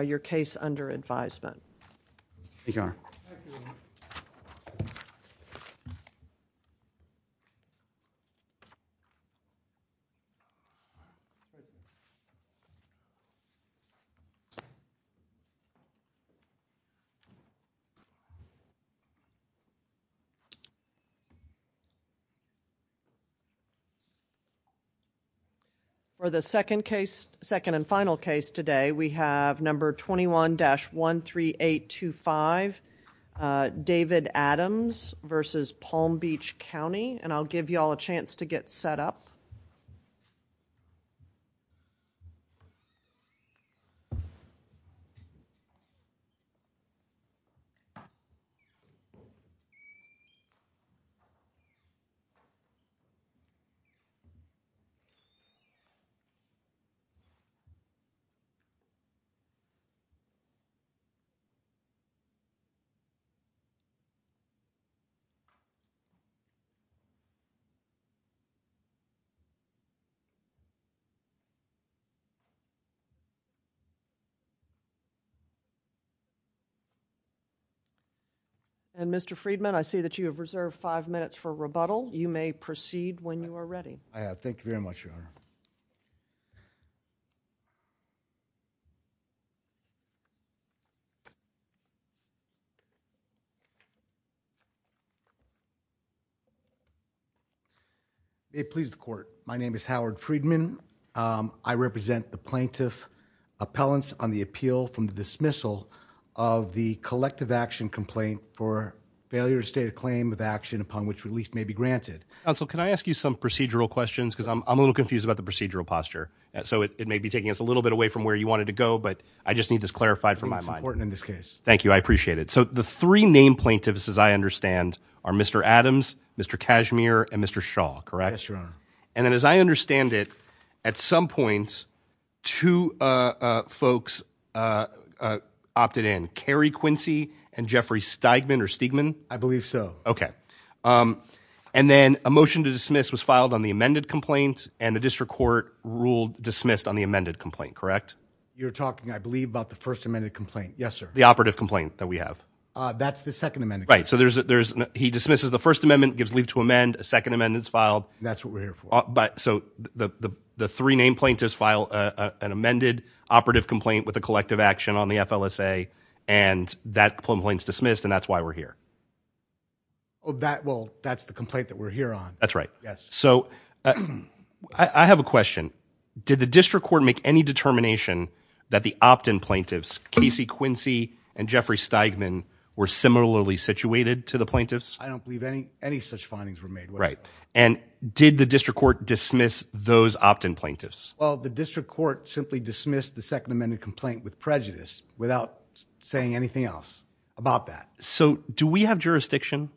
your case under advisement. Okay. For the second case, second and final case today, we have number 21-13825, David Adams versus Palm Beach County. And I'll give you all a chance to get set up. And Mr. Friedman, I see that you have reserved five minutes for rebuttal. You may proceed when you are ready. I have. It pleases the court. My name is Howard Friedman. I represent the plaintiff appellants on the appeal from the dismissal of the collective action complaint for failure to state a claim of action upon which relief may be granted. Counsel, can I ask you some procedural questions, because I'm a little confused about the procedural posture. So it may be taking us a little bit away from where you wanted to go, but I just need this clarified from my mind. It's important in this case. Thank you. I appreciate it. So the three name plaintiffs, as I understand, are Mr. Adams, Mr. Cashmere, and Mr. Shaw, correct? Yes, Your Honor. And then as I understand it, at some point, two folks opted in, Carrie Quincy and Jeffrey Steigman or Steigman? I believe so. Okay. And then a motion to dismiss was filed on the amended complaint and the district court ruled dismissed on the amended complaint, correct? You're talking, I believe, about the first amended complaint. Yes, sir. The operative complaint that we have. That's the second amendment. Right. So there's, he dismisses the first amendment, gives leave to amend a second amendments filed. That's what we're here for. But so the three name plaintiffs file an amended operative complaint with a collective action on the FLSA and that complaint is dismissed and that's why we're here. Oh, that, well, that's the complaint that we're here on. That's right. Yes. So I have a question. Did the district court make any determination that the opt-in plaintiffs, Casey Quincy and Jeffrey Steigman were similarly situated to the plaintiffs? I don't believe any, any such findings were made. Right. And did the district court dismiss those opt-in plaintiffs? Well, the district court simply dismissed the second amended complaint with prejudice without saying anything else about that. So do we have jurisdiction?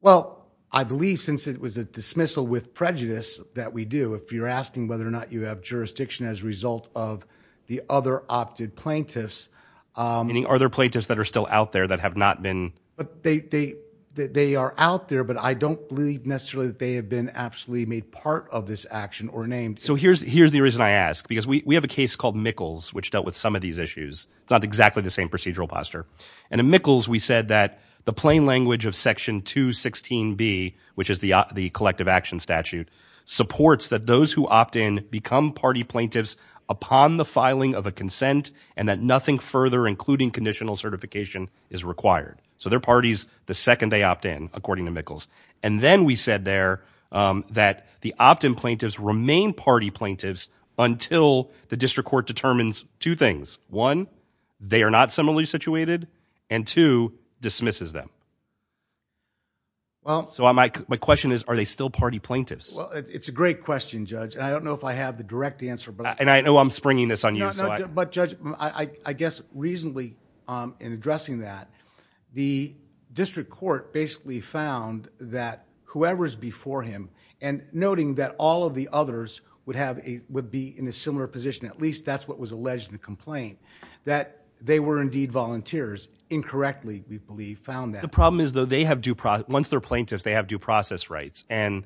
Well, I believe since it was a dismissal with prejudice that we do, if you're asking whether or not you have jurisdiction as a result of the other opted plaintiffs, um, any other plaintiffs that are still out there that have not been, but they, they, they are out there, but I don't believe necessarily that they have been absolutely made part of this action or named. So here's, here's the reason I ask, because we have a case called Mickles, which dealt with some of these issues. It's not exactly the same procedural posture. And in Mickles, we said that the plain language of section two 16 B, which is the, the collective action statute supports that those who opt in become party plaintiffs upon the filing of a consent and that nothing further, including conditional certification is required. So their parties, the second they opt in according to Mickles. And then we said there, um, that the opt-in plaintiffs remain party plaintiffs until the they are not similarly situated and two dismisses them. Well, so my, my question is, are they still party plaintiffs? It's a great question, judge. And I don't know if I have the direct answer, but I know I'm springing this on you. But judge, I guess reasonably, um, in addressing that the district court basically found that whoever's before him and noting that all of the others would have a, would be in a similar position, at least that's what was alleged in the complaint that they were indeed volunteers incorrectly. We believe found that the problem is though they have due process, once they're plaintiffs, they have due process rights and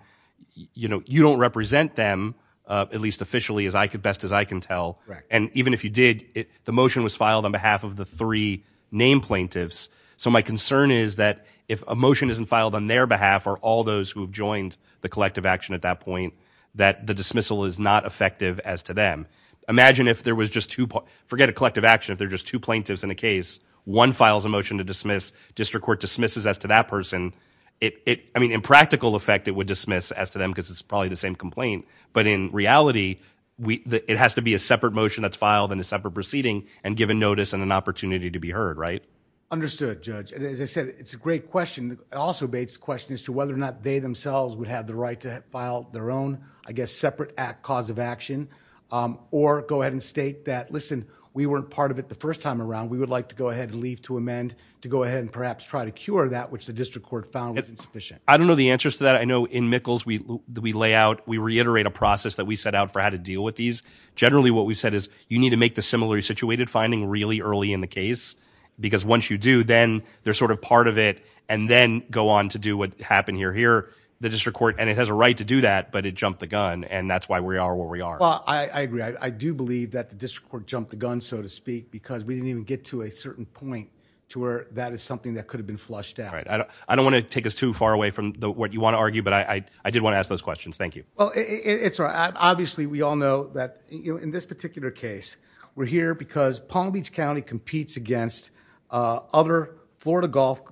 you know, you don't represent them, uh, at least officially as I could best as I can tell. And even if you did it, the motion was filed on behalf of the three name plaintiffs. So my concern is that if a motion isn't filed on their behalf or all those who've joined the collective action at that point, that the dismissal is not effective as to them. Imagine if there was just two, forget a collective action, if they're just two plaintiffs in a case, one files a motion to dismiss district court dismisses as to that person, it, I mean, in practical effect, it would dismiss as to them because it's probably the same complaint, but in reality we, it has to be a separate motion that's filed in a separate proceeding and given notice and an opportunity to be heard. Right. Understood judge. And as I said, it's a great question. It also baits the question as to whether or not they themselves would have the right to file their own, I guess, separate act cause of action. Um, or go ahead and state that, listen, we weren't part of it the first time around. We would like to go ahead and leave to amend to go ahead and perhaps try to cure that, which the district court found was insufficient. I don't know the answers to that. I know in Mickles we, we lay out, we reiterate a process that we set out for how to deal with these. Generally what we've said is you need to make the similar situated finding really early in the case because once you do, then they're sort of part of it and then go on to do what happened here, here, the district court, and it has a right to do that, but it jumped the gun and that's why we are where we are. I agree. I do believe that the district court jumped the gun so to speak because we didn't even get to a certain point to where that is something that could have been flushed out. I don't want to take us too far away from the, what you want to argue, but I, I did want to ask those questions. Thank you. Well, it's right. Obviously we all know that, you know, in this particular case we're here because Palm Beach County competes against other Florida golf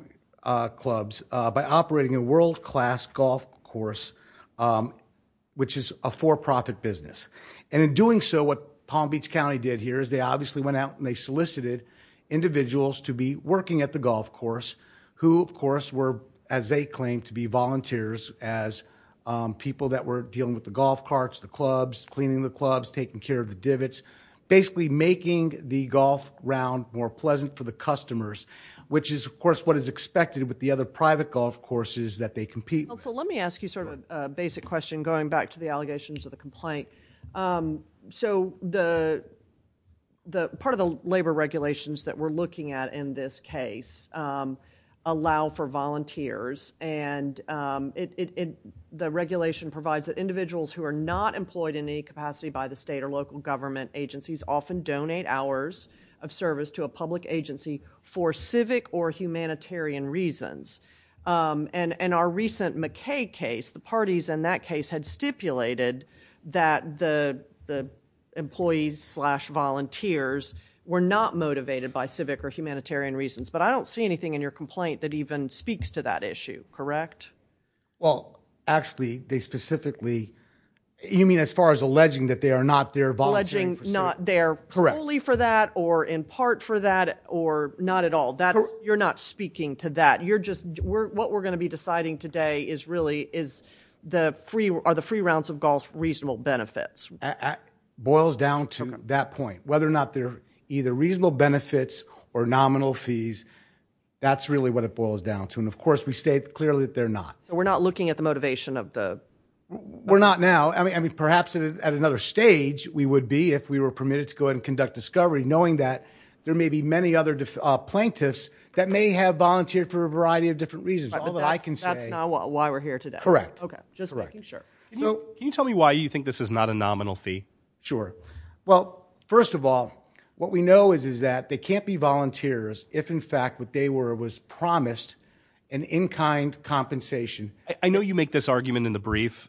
clubs by operating a world-class golf course, which is a for-profit business and in doing so what Palm Beach County did here is they obviously went out and they solicited individuals to be working at the golf course who of course were as they claim to be volunteers as people that were dealing with the golf carts, the for the customers, which is of course what is expected with the other private golf courses that they compete with. Well, so let me ask you sort of a basic question going back to the allegations of the complaint. So the, the part of the labor regulations that we're looking at in this case allow for volunteers and it, it, it, the regulation provides that individuals who are not employed in any capacity by the state or local government agencies often donate hours of service to a public agency for civic or humanitarian reasons. Um, and, and our recent McKay case, the parties in that case had stipulated that the, the employees slash volunteers were not motivated by civic or humanitarian reasons, but I don't see anything in your complaint that even speaks to that issue, correct? Well, actually they specifically, you mean as far as alleging that they are not there volunteering, not there solely for that or in part for that or not at all, that's, you're not speaking to that. You're just, we're, what we're going to be deciding today is really is the free or the free rounds of golf, reasonable benefits boils down to that point, whether or not they're either reasonable benefits or nominal fees, that's really what it boils down to. And of course we state clearly that they're not, so we're not looking at the motivation of the, we're not now, I mean, I mean perhaps at another stage we would be if we were permitted to go ahead and conduct discovery knowing that there may be many other plaintiffs that may have volunteered for a variety of different reasons, all that I can say why we're here today. Correct. Okay. Just making sure. Can you tell me why you think this is not a nominal fee? Sure. Well, first of all, what we know is, is that they can't be volunteers if in fact what they were was promised an in-kind compensation. I know you make this argument in the brief,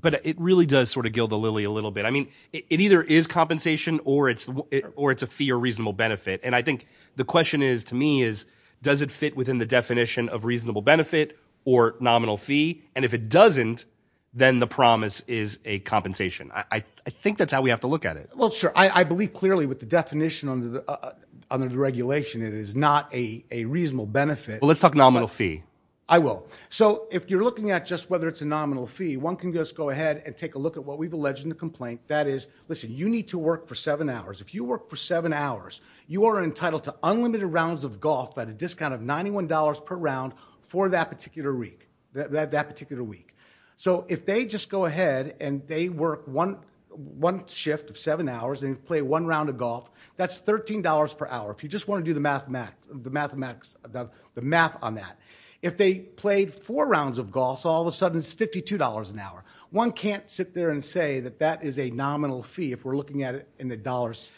but it really does sort of gild the lily a little bit. I mean, it either is compensation or it's, or it's a fee or reasonable benefit. And I think the question is to me is, does it fit within the definition of reasonable benefit or nominal fee? And if it doesn't, then the promise is a compensation. I think that's how we have to look at it. Well, sure. I believe clearly with the definition under the, uh, under the regulation, it is not a, a reasonable benefit. Well, let's talk nominal fee. I will. So if you're looking at just whether it's a nominal fee, one can just go ahead and take a look at what we've alleged in the complaint. That is, listen, you need to work for seven hours. If you work for seven hours, you are entitled to unlimited rounds of golf at a discount of $91 per round for that particular week, that, that, that particular week. So if they just go ahead and they work one, one shift of seven hours and play one round of golf, that's $13 per hour. If you just want to do the math, the mathematics, the math on that, if they played four rounds of golf, all of a sudden it's $52 an hour. One can't sit there and say that that is a nominal fee. If we're looking at it in the dollars,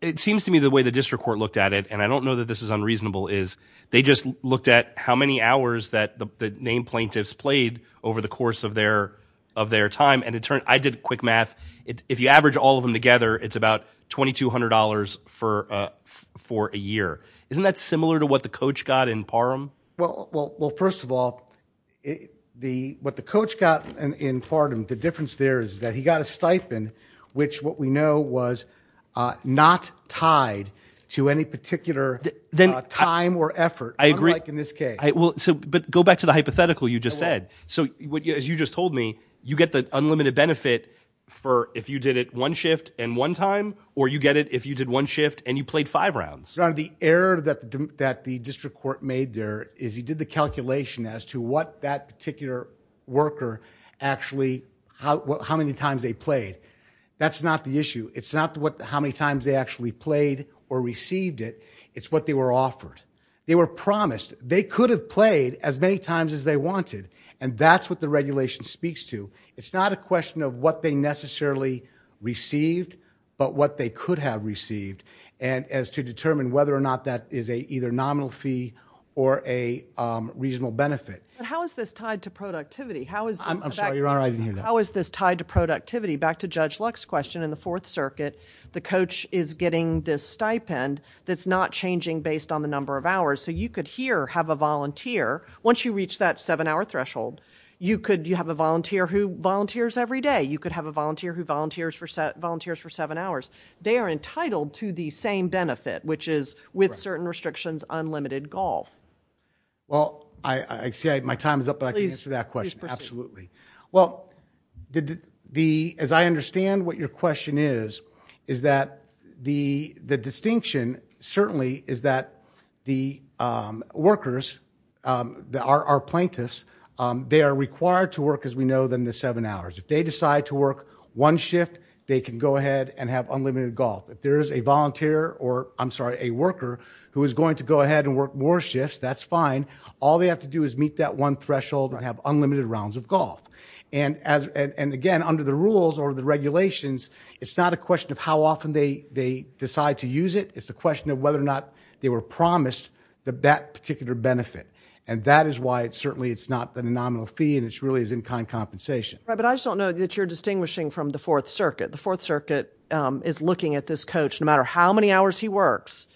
it seems to me the way the district court looked at it. And I don't know that this is unreasonable is they just looked at how many hours that the name plaintiffs played over the course of their, of their time. And it turned, I did quick math. If you average all of them together, it's about $2,200 for a, for a year. Isn't that similar to what the coach got in Parham? Well, well, well, first of all, the, what the coach got in Parham, the difference there is that he got a stipend, which what we know was not tied to any particular time or effort. I agree. What's it look like in this case? Well, so, but go back to the hypothetical you just said. So what you, as you just told me, you get the unlimited benefit for if you did it one shift and one time, or you get it. If you did one shift and you played five rounds, the error that the district court made there is he did the calculation as to what that particular worker actually, how many times they played. That's not the issue. It's not what, how many times they actually played or received it. It's what they were offered. They were promised they could have played as many times as they wanted. And that's what the regulation speaks to. It's not a question of what they necessarily received, but what they could have received and as to determine whether or not that is a, either nominal fee or a, um, regional benefit. How is this tied to productivity? How is this tied to productivity back to judge Lux question in the fourth circuit, the coach is getting this stipend. That's not changing based on the number of hours. So you could hear, have a volunteer. Once you reach that seven hour threshold, you could, you have a volunteer who volunteers every day. You could have a volunteer who volunteers for set volunteers for seven hours. They are entitled to the same benefit, which is with certain restrictions, unlimited golf. Well, I, I see my time is up, but I can answer that question. Absolutely. Well, the, the, as I understand what your question is, is that the, the distinction certainly is that the, um, workers, um, the, our, our plaintiffs, um, they are required to work as we know them, the seven hours, if they decide to work one shift, they can go ahead and have unlimited golf. If there is a volunteer or I'm sorry, a worker who is going to go ahead and work more shifts, that's fine. All they have to do is meet that one threshold and have unlimited rounds of golf. And as, and, and again, under the rules or the regulations, it's not a question of how often they, they decide to use it. It's a question of whether or not they were promised the, that particular benefit. And that is why it's certainly, it's not the nominal fee and it's really as in kind compensation. Right. But I just don't know that you're distinguishing from the fourth circuit. The fourth circuit, um, is looking at this coach, no matter how many hours he works,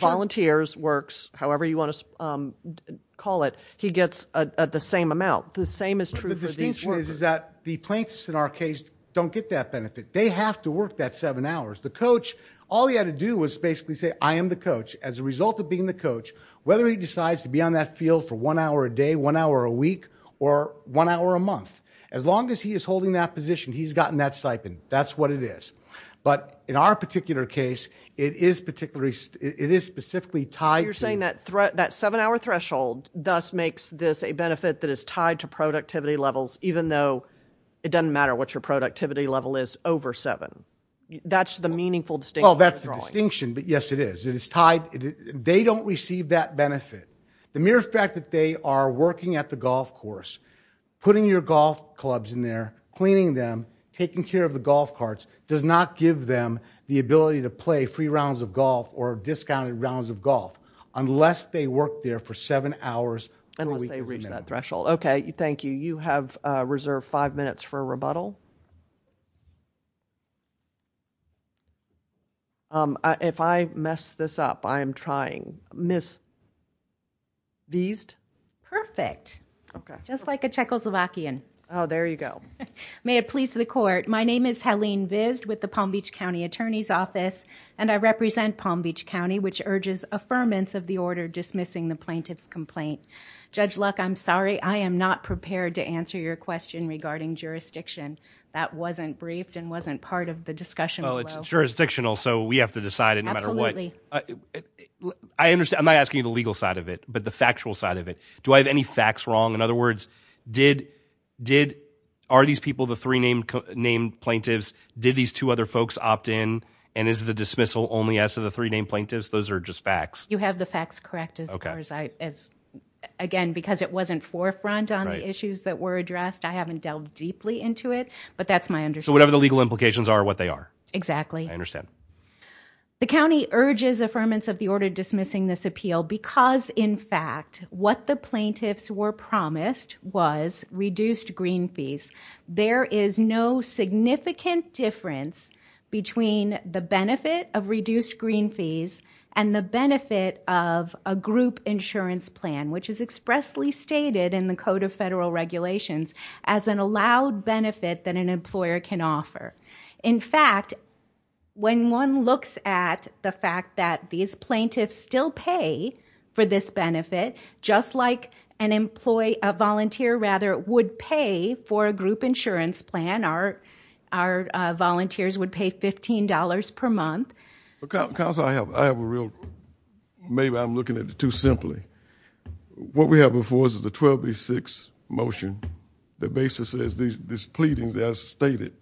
volunteers works, however you want to, um, call it, he gets a, the same amount. The same is true for the distinction is, is that the plaintiffs in our case don't get that benefit. They have to work that seven hours. The coach, all he had to do was basically say, I am the coach as a result of being the coach, whether he decides to be on that field for one hour a day, one hour a week, or one hour a month, as long as he is holding that position, he's gotten that stipend. That's what it is. But in our particular case, it is particularly, it is specifically tied. You're saying that threat, that seven hour threshold does makes this a benefit that is tied to productivity levels, even though it doesn't matter what your productivity level is over seven. That's the meaningful distinction. Oh, that's the distinction. But yes, it is. It is tied. They don't receive that benefit. The mere fact that they are working at the golf course, putting your golf clubs in there, cleaning them, taking care of the golf carts, does not give them the ability to play free rounds of golf or discounted rounds of golf, unless they work there for seven hours per week. Unless they reach that threshold. Okay. Thank you. You have reserved five minutes for rebuttal. If I messed this up, I am trying. Ms. Viest? Perfect. Okay. Just like a Czechoslovakian. Oh, there you go. May it please the court. My name is Helene Viest with the Palm Beach County Attorney's Office, and I represent Palm Beach County, which urges affirmance of the order dismissing the plaintiff's complaint. Judge Luck, I'm sorry. I am not prepared to answer your question regarding jurisdiction. That wasn't briefed and wasn't part of the discussion. Well, it's jurisdictional, so we have to decide it no matter what. Absolutely. I understand. I'm not asking you the legal side of it, but the factual side of it. Do I have any facts wrong? In other words, are these people the three named plaintiffs? Did these two other folks opt in, and is the dismissal only as to the three named plaintiffs? Those are just facts. You have the facts correct, as far as I... Again, because it wasn't forefront on the issues that were addressed. I haven't delved deeply into it, but that's my understanding. So whatever the legal implications are, what they are. Exactly. I understand. The county urges affirmance of the order dismissing this appeal because, in fact, what the plaintiffs were promised was reduced green fees. There is no significant difference between the benefit of reduced green fees and the benefit of a group insurance plan, which is expressly stated in the Code of Federal Regulations as an allowed benefit that an employer can offer. In fact, when one looks at the fact that these plaintiffs still pay for this benefit, just like a volunteer would pay for a group insurance plan, our volunteers would pay $15 per month. Counsel, I have a real... Maybe I'm looking at it too simply. What we have before us is a 1286 motion that basically says these pleadings, as stated,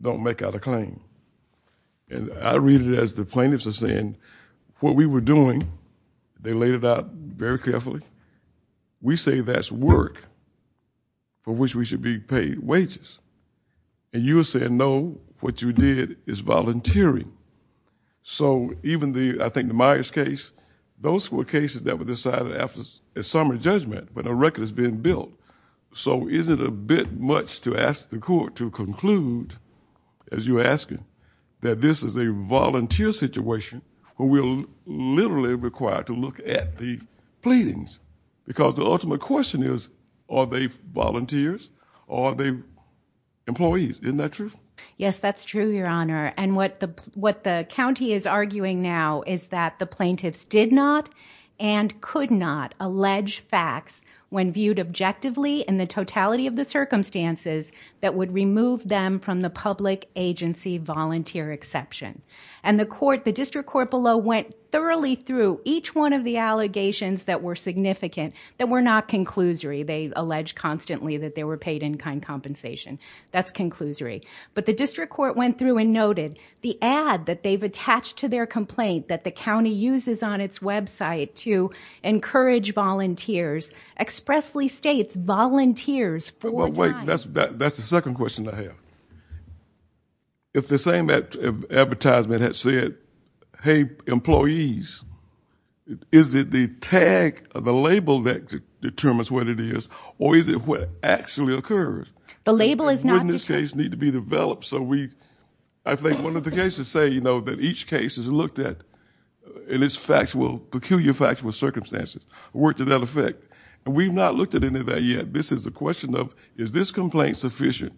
don't make out a claim. I read it as the plaintiffs are saying, what we were doing, they laid it out very carefully. We say that's work for which we should be paid wages. You are saying, no, what you did is volunteering. So even the, I think the Myers case, those were cases that were decided after a summary judgment when a record has been built. So is it a bit much to ask the court to conclude, as you're asking, that this is a volunteer situation where we're literally required to look at the pleadings? Because the ultimate question is, are they volunteers or are they employees? Isn't that true? Yes, that's true, Your Honor. And what the county is arguing now is that the plaintiffs did not and could not allege facts when viewed objectively in the totality of the circumstances that would remove them from the public agency volunteer exception. And the district court below went thoroughly through each one of the allegations that were significant that were not conclusory. They allege constantly that they were paid in kind compensation. That's conclusory. But the district court went through and noted the ad that they've attached to their complaint that the county uses on its website to encourage volunteers, expressly states volunteers for a time. Well, wait, that's the second question I have. If the same advertisement had said, hey, employees, is it the tag, the label that determines what it is, or is it what actually occurs? The label is not determined. And wouldn't this case need to be developed so we, I think one of the cases say, you know, that each case is looked at and it's factual, peculiar factual circumstances work to that effect. And we've not looked at any of that yet. This is a question of, is this complaint sufficient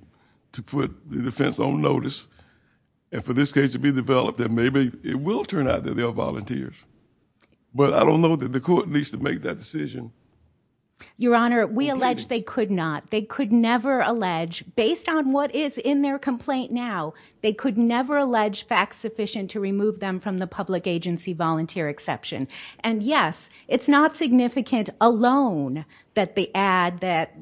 to put the defense on notice and for this case to be developed that maybe it will turn out that they are volunteers. But I don't know that the court needs to make that decision. Your Honor, we allege they could not. They could never allege based on what is in their complaint now, they could never allege facts sufficient to remove them from the public agency volunteer exception. And yes, it's not significant alone that the ad that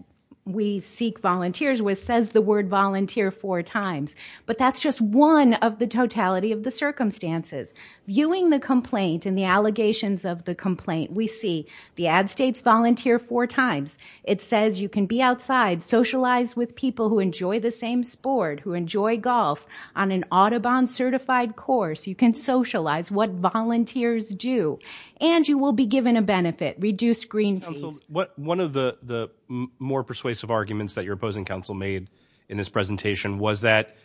we seek volunteers with says the word volunteer four times. But that's just one of the totality of the circumstances. Viewing the complaint and the allegations of the complaint, we see the ad states volunteer four times. It says you can be outside, socialize with people who enjoy the same sport, who enjoy a certified course. You can socialize what volunteers do and you will be given a benefit, reduced green fees. One of the more persuasive arguments that your opposing counsel made in this presentation was that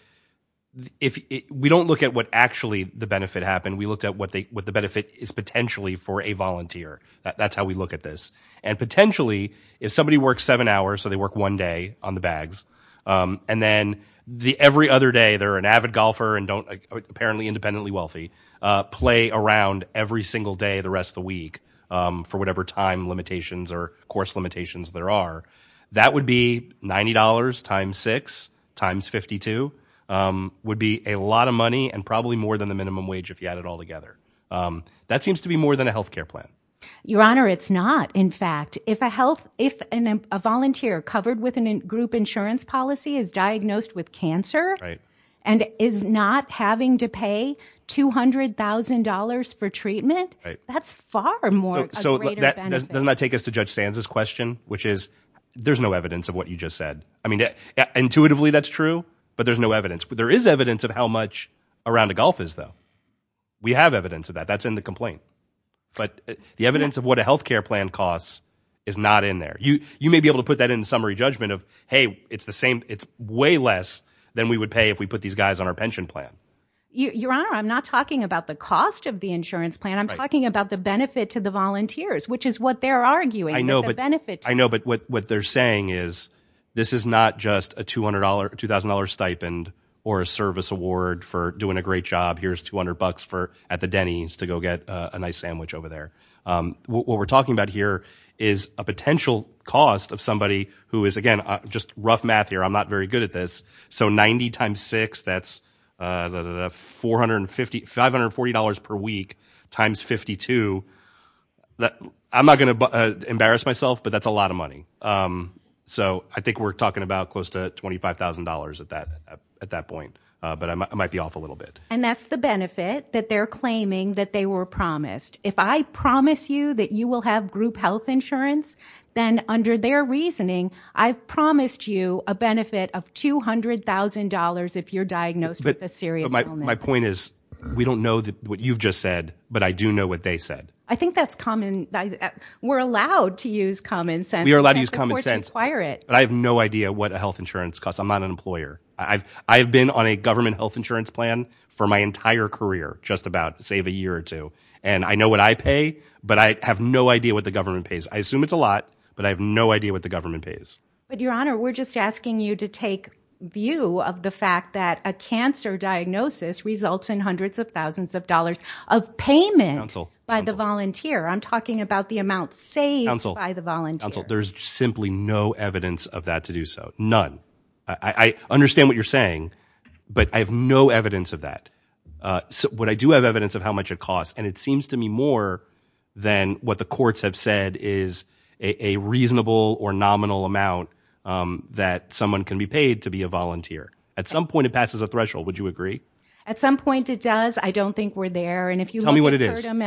if we don't look at what actually the benefit happened, we looked at what they, what the benefit is potentially for a volunteer. That's how we look at this. And potentially if somebody works seven hours, so they work one day on the bags, um, and then the every other day they're an avid golfer and don't apparently independently wealthy, uh, play around every single day, the rest of the week, um, for whatever time limitations or course limitations there are. That would be $90 times six times 52, um, would be a lot of money and probably more than the minimum wage. If you add it all together, um, that seems to be more than a healthcare plan. Your honor. It's not. In fact, if a health, if an, a volunteer covered with an group insurance policy is diagnosed with cancer and is not having to pay $200,000 for treatment, that's far more. So that does not take us to judge Sands's question, which is, there's no evidence of what you just said. I mean, intuitively that's true, but there's no evidence, but there is evidence of how much around a golf is though. We have evidence of that. That's in the complaint, but the evidence of what a healthcare plan costs is not in there. You, you may be able to put that in summary judgment of, Hey, it's the same. It's way less than we would pay if we put these guys on our pension plan. Your honor. I'm not talking about the cost of the insurance plan. I'm talking about the benefit to the volunteers, which is what they're arguing. I know, but I know, but what they're saying is this is not just a $200, $2,000 stipend or a service award for doing a great job. Here's 200 bucks for at the Denny's to go get a nice sandwich over there. Um, what we're talking about here is a potential cost of somebody who is, again, just rough math here. I'm not very good at this. So 90 times six, that's a 450, $540 per week times 52 that I'm not going to embarrass myself, but that's a lot of money. Um, so I think we're talking about close to $25,000 at that, at that point. Uh, but I might be off a little bit. And that's the benefit that they're claiming that they were promised. If I promise you that you will have group health insurance, then under their reasoning, I've promised you a benefit of $200,000 if you're diagnosed with a serious illness. My point is we don't know that what you've just said, but I do know what they said. I think that's common. We're allowed to use common sense. We are allowed to use common sense, but I have no idea what a health insurance costs. I'm not an employer. I've, I've been on a government health insurance plan for my entire career, just about save a year or two. And I know what I pay, but I have no idea what the government pays. I assume it's a lot, but I have no idea what the government pays. But your honor, we're just asking you to take view of the fact that a cancer diagnosis results in hundreds of thousands of dollars of payment by the volunteer. I'm talking about the amount saved by the volunteer. There's simply no evidence of that to do so. None. I understand what you're saying, but I have no evidence of that. What I do have evidence of how much it costs and it seems to me more than what the courts have said is a reasonable or nominal amount that someone can be paid to be a volunteer. At some point it passes a threshold. Would you agree? At some point it does. I don't think we're there. And if you tell me what it is, tell me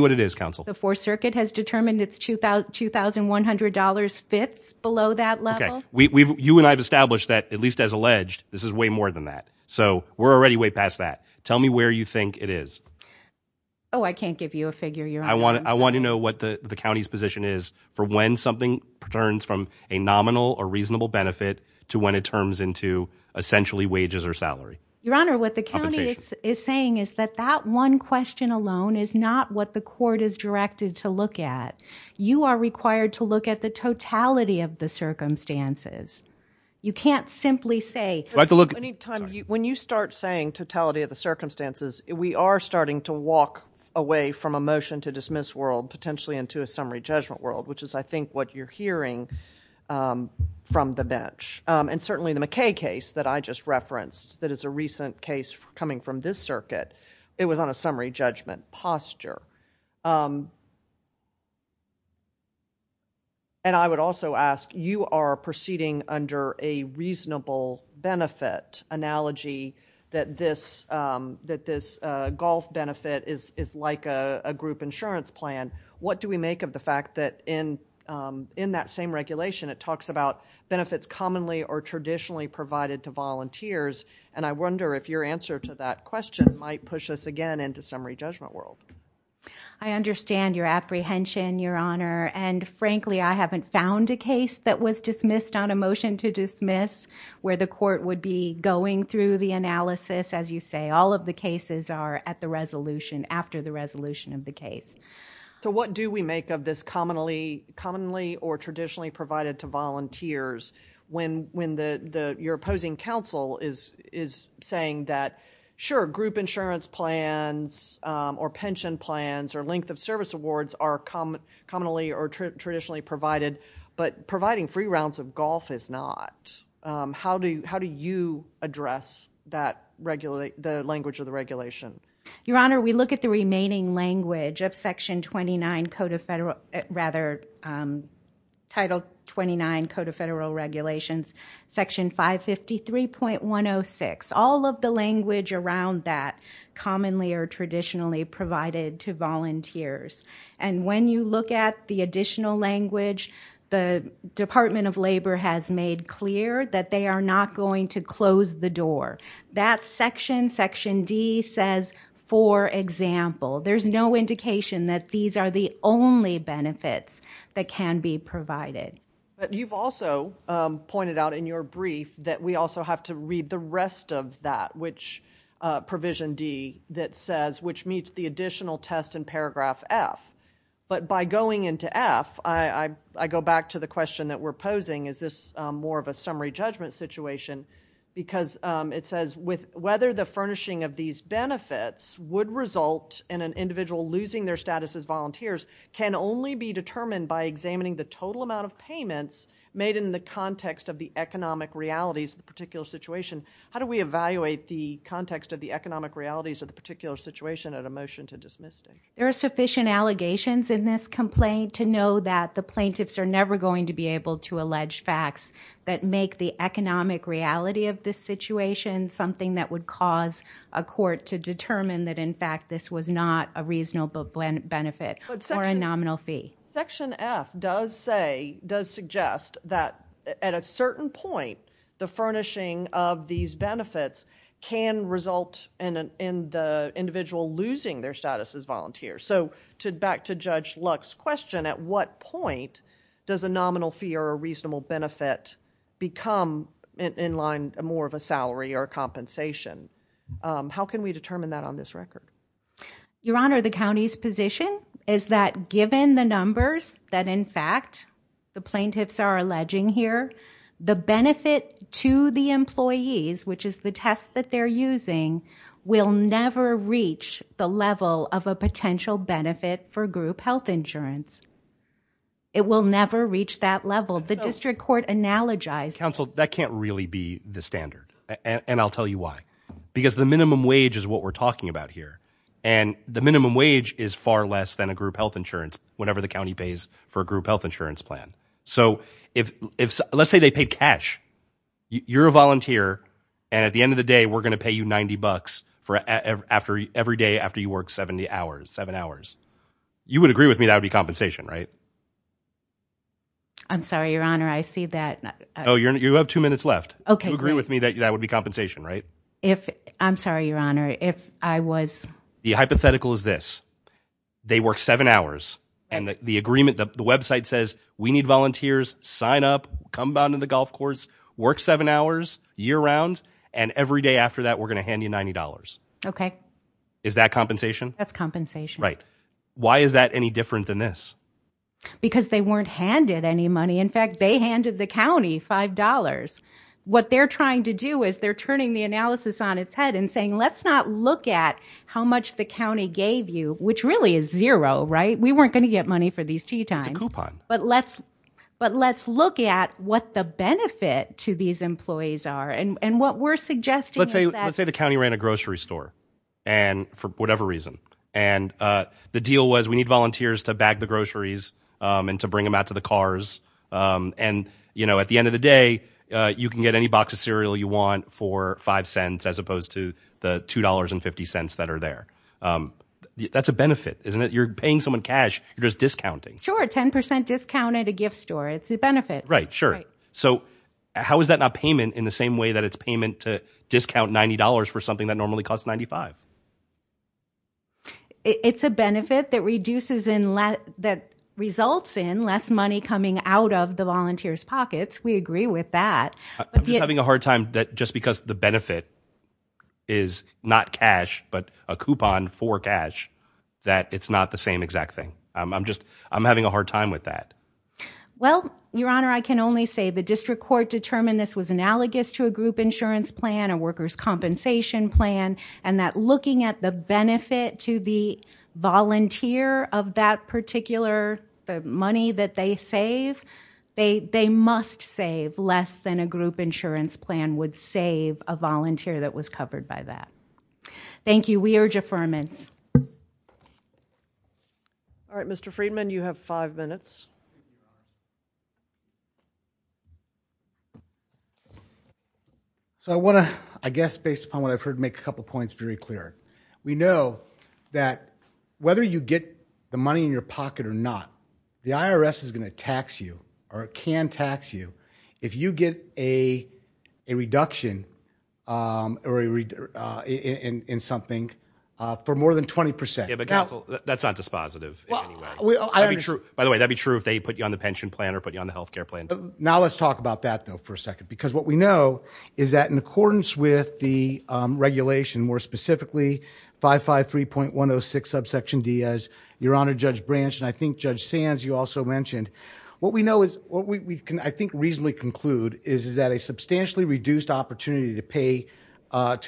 what it is, counsel. The fourth circuit has determined it's 2000, $2,100 fits below that level. You and I have established that at least as alleged, this is way more than that. So we're already way past that. Tell me where you think it is. Oh, I can't give you a figure you're on. I want to know what the county's position is for when something returns from a nominal or reasonable benefit to when it turns into essentially wages or salary. Your honor, what the county is saying is that that one question alone is not what the court is directed to look at. You are required to look at the totality of the circumstances. You can't simply say. When you start saying totality of the circumstances, we are starting to walk away from a motion to dismiss world potentially into a summary judgment world, which is I think what you're hearing from the bench. And certainly the McKay case that I just referenced that is a recent case coming from this circuit, it was on a summary judgment posture. And I would also ask, you are proceeding under a reasonable benefit analogy that this golf benefit is like a group insurance plan. What do we make of the fact that in that same regulation, it talks about benefits commonly or traditionally provided to volunteers? And I wonder if your answer to that question might push us again into summary judgment world. I understand your apprehension, your honor, and frankly, I haven't found a case that was dismissed on a motion to dismiss where the court would be going through the analysis. As you say, all of the cases are at the resolution after the resolution of the case. So what do we make of this commonly or traditionally provided to volunteers when you're opposing counsel is saying that, sure, group insurance plans or pension plans or length of service awards are commonly or traditionally provided, but providing free rounds of golf is not. How do you address the language of the regulation? Your honor, we look at the remaining language of section 29 code of federal, rather title 29 code of federal regulations, section 553.106. All of the language around that commonly or traditionally provided to volunteers. And when you look at the additional language, the Department of Labor has made clear that they are not going to close the door. That section, section D, says, for example, there's no indication that these are the only benefits that can be provided. You've also pointed out in your brief that we also have to read the rest of that, which provision D that says, which meets the additional test in paragraph F. But by going into F, I go back to the question that we're posing, is this more of a summary judgment situation? Because it says, whether the furnishing of these benefits would result in an individual losing their status as volunteers can only be determined by examining the total amount of payments made in the context of the economic realities of the particular situation. How do we evaluate the context of the economic realities of the particular situation at a motion to dismiss? There are sufficient allegations in this complaint to know that the plaintiffs are never going to be able to allege facts that make the economic reality of this situation something that would cause a court to determine that, in fact, this was not a reasonable benefit or a nominal fee. Section F does suggest that at a certain point, the furnishing of these benefits can result in the individual losing their status as volunteers. Back to Judge Luck's question, at what point does a nominal fee or a reasonable benefit become, in line, more of a salary or compensation? How can we determine that on this record? Your Honor, the county's position is that given the numbers that, in fact, the plaintiffs are alleging here, the benefit to the employees, which is the test that they're using, will never reach the level of a potential benefit for group health insurance. It will never reach that level. The district court analogized- Counsel, that can't really be the standard, and I'll tell you why. Because the minimum wage is what we're talking about here, and the minimum wage is far less than a group health insurance, whatever the county pays for a group health insurance plan. So let's say they pay cash. You're a volunteer, and at the end of the day, we're going to pay you 90 bucks every day after you work 70 hours, seven hours. You would agree with me that would be compensation, right? I'm sorry, Your Honor, I see that- Oh, you have two minutes left. Okay, great. You agree with me that that would be compensation, right? I'm sorry, Your Honor, if I was- The hypothetical is this. They work seven hours, and the agreement, the website says, we need volunteers, sign up, come down to the golf course, work seven hours, year round, and every day after that, we're going to hand you $90. Okay. Is that compensation? That's compensation. Right. Why is that any different than this? Because they weren't handed any money. In fact, they handed the county $5. What they're trying to do is they're turning the analysis on its head and saying, let's not look at how much the county gave you, which really is zero, right? We weren't going to get money for these tea times. It's a coupon. But let's look at what the benefit to these employees are, and what we're suggesting is that- Let's say the county ran a grocery store for whatever reason. The deal was, we need volunteers to bag the groceries and to bring them out to the cars. At the end of the day, you can get any box of cereal you want for $0.05, as opposed to the $2.50 that are there. That's a benefit, isn't it? You're paying someone cash. You're just discounting. Sure. 10% discount at a gift store. It's a benefit. Right. Sure. How is that not payment in the same way that it's payment to discount $90 for something that normally costs $95? It's a benefit that results in less money coming out of the volunteers' pockets. We agree with that. I'm just having a hard time that just because the benefit is not cash but a coupon for cash, that it's not the same exact thing. I'm having a hard time with that. Well, Your Honor, I can only say the district court determined this was analogous to a group insurance plan, a workers' compensation plan, and that looking at the benefit to the volunteer of that particular money that they save, they must save less than a group insurance plan would save a volunteer that was covered by that. Thank you. We urge affirmance. All right. Mr. Friedman, you have five minutes. So I want to, I guess based upon what I've heard, make a couple of points very clear. We know that whether you get the money in your pocket or not, the IRS is going to tax you or can tax you if you get a reduction in something for more than 20%. Yeah, but counsel, that's not dispositive in any way. By the way, that'd be true if they put you on the pension plan or put you on the health care plan. Now, let's talk about that, though, for a second, because what we know is that in accordance with the regulation, more specifically 553.106 subsection D, as Your Honor, Judge Branch and I think Judge Sands, you also mentioned, what we know is what we can, I think, reasonably conclude is that a substantially reduced opportunity to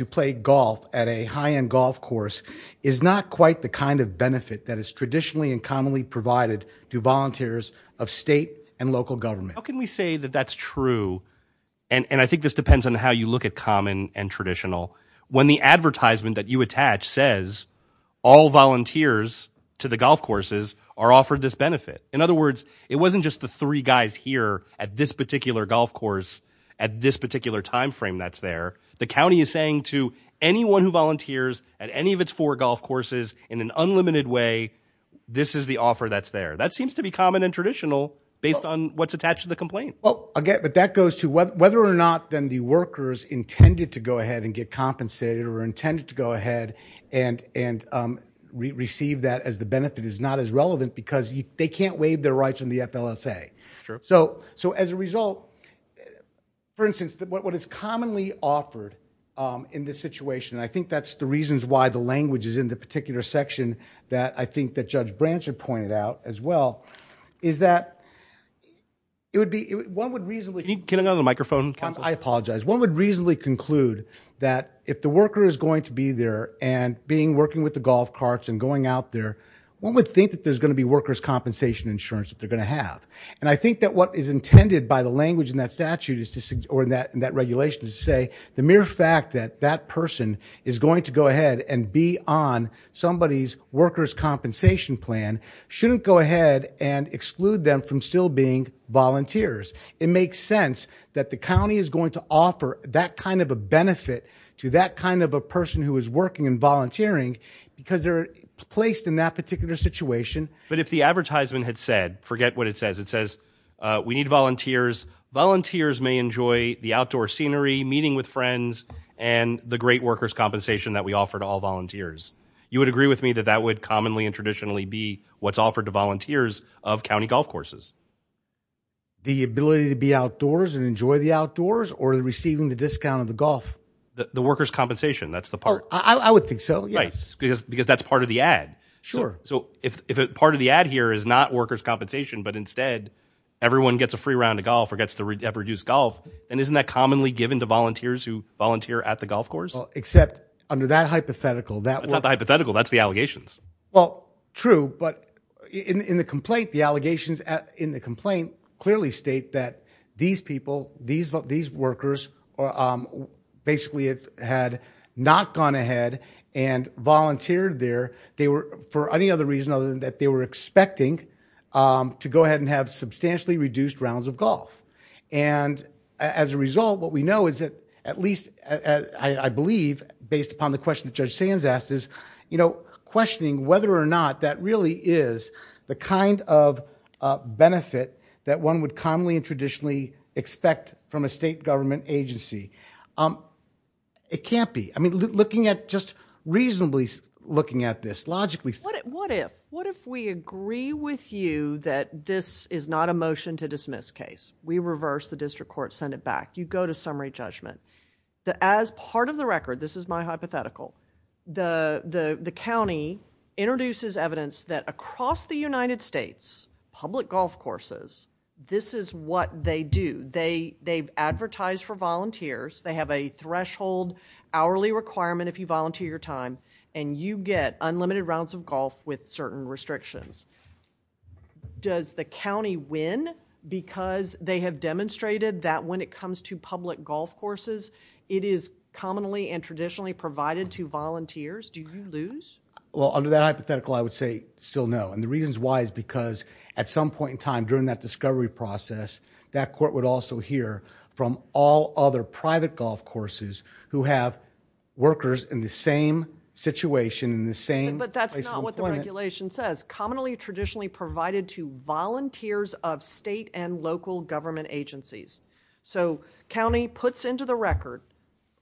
play golf at a high-end golf course is not quite the kind of benefit that is traditionally and commonly provided to volunteers of state and local government. How can we say that that's true? And I think this depends on how you look at common and traditional. When the advertisement that you attach says all volunteers to the golf courses are offered this benefit. In other words, it wasn't just the three guys here at this particular golf course at this particular time frame that's there. The county is saying to anyone who volunteers at any of its four golf courses in an unlimited way, this is the offer that's there. That seems to be common and traditional based on what's attached to the complaint. Well, again, but that goes to whether or not then the workers intended to go ahead and get compensated or intended to go ahead and receive that as the benefit is not as relevant because they can't waive their rights in the FLSA. So as a result, for instance, what is commonly offered in this situation, and I think that's the reasons why the language is in the particular section that I think that Judge Branch had pointed out as well, is that it would be, one would reasonably- Can you get another microphone, counsel? I apologize. One would reasonably conclude that if the worker is going to be there and being working with the golf carts and going out there, one would think that there's going to be workers' compensation insurance that they're going to have. And I think that what is intended by the language in that statute or in that regulation is to say, the mere fact that that person is going to go ahead and be on somebody's workers' compensation plan shouldn't go ahead and exclude them from still being volunteers. It makes sense that the county is going to offer that kind of a benefit to that kind of a person who is working and volunteering because they're placed in that particular situation. But if the advertisement had said, forget what it says, it says, we need volunteers. Volunteers may enjoy the outdoor scenery, meeting with friends, and the great workers' compensation that we offer to all volunteers. You would agree with me that that would commonly and traditionally be what's offered to volunteers of county golf courses? The ability to be outdoors and enjoy the outdoors or receiving the discount of the golf? The workers' compensation, that's the part. I would think so, yes. Because that's part of the ad. Sure. So if part of the ad here is not workers' compensation, but instead, everyone gets a free round of golf or gets to have reduced golf, then isn't that commonly given to volunteers who volunteer at the golf course? Except under that hypothetical, that's not the hypothetical. That's the allegations. Well, true. But in the complaint, the allegations in the complaint clearly state that these people, these workers, basically had not gone ahead and volunteered there. For any other reason other than that they were expecting to go ahead and have substantially reduced rounds of golf. And as a result, what we know is that at least, I believe, based upon the question that Judge Sands asked, is questioning whether or not that really is the kind of benefit that one would commonly and traditionally expect from a state government agency. It can't be. I mean, looking at, just reasonably looking at this, logically... What if we agree with you that this is not a motion to dismiss case? We reverse the district court, send it back. You go to summary judgment. As part of the record, this is my hypothetical, the county introduces evidence that across the United States, public golf courses, this is what they do. They advertise for volunteers. They have a threshold hourly requirement if you volunteer your time, and you get unlimited rounds of golf with certain restrictions. Does the county win because they have demonstrated that when it comes to public golf courses, it is commonly and traditionally provided to volunteers? Do you lose? Well, under that hypothetical, I would say still no, and the reasons why is because at some point in time during that discovery process, that court would also hear from all other private golf courses who have workers in the same situation, in the same place of employment. But that's not what the regulation says. Commonly traditionally provided to volunteers of state and local government agencies. So county puts into the record,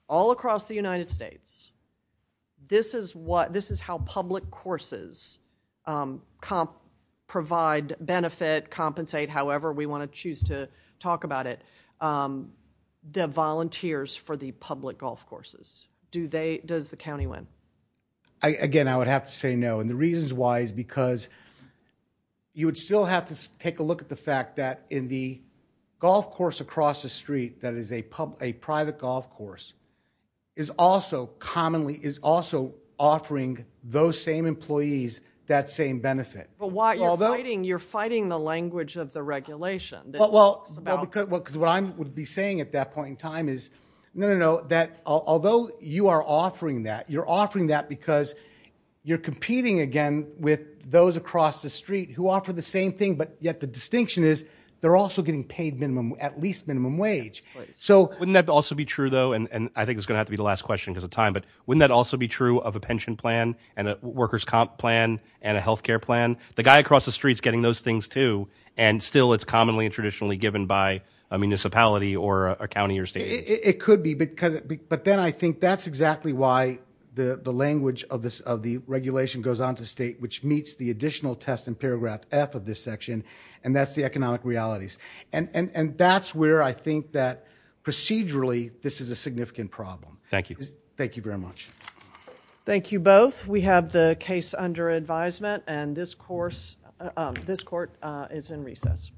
all across the United States, this is what, this is how public courses provide benefit, compensate, however we want to choose to talk about it. The volunteers for the public golf courses. Do they, does the county win? Again I would have to say no, and the reasons why is because you would still have to take a look at the fact that in the golf course across the street that is a private golf course is also commonly, is also offering those same employees that same benefit. But why, you're fighting the language of the regulation. Well, because what I would be saying at that point in time is no, no, no, that although you are offering that, you're offering that because you're competing again with those across the street who offer the same thing, but yet the distinction is they're also getting paid minimum, at least minimum wage. So wouldn't that also be true though, and I think it's going to have to be the last question because of time, but wouldn't that also be true of a pension plan and a workers comp plan and a healthcare plan? The guy across the street is getting those things too, and still it's commonly and traditionally given by a municipality or a county or state. It could be, but then I think that's exactly why the language of the regulation goes on to state which meets the additional test in paragraph F of this section, and that's the economic realities. And that's where I think that procedurally, this is a significant problem. Thank you. Thank you very much. Thank you both. We have the case under advisement, and this court is in recess.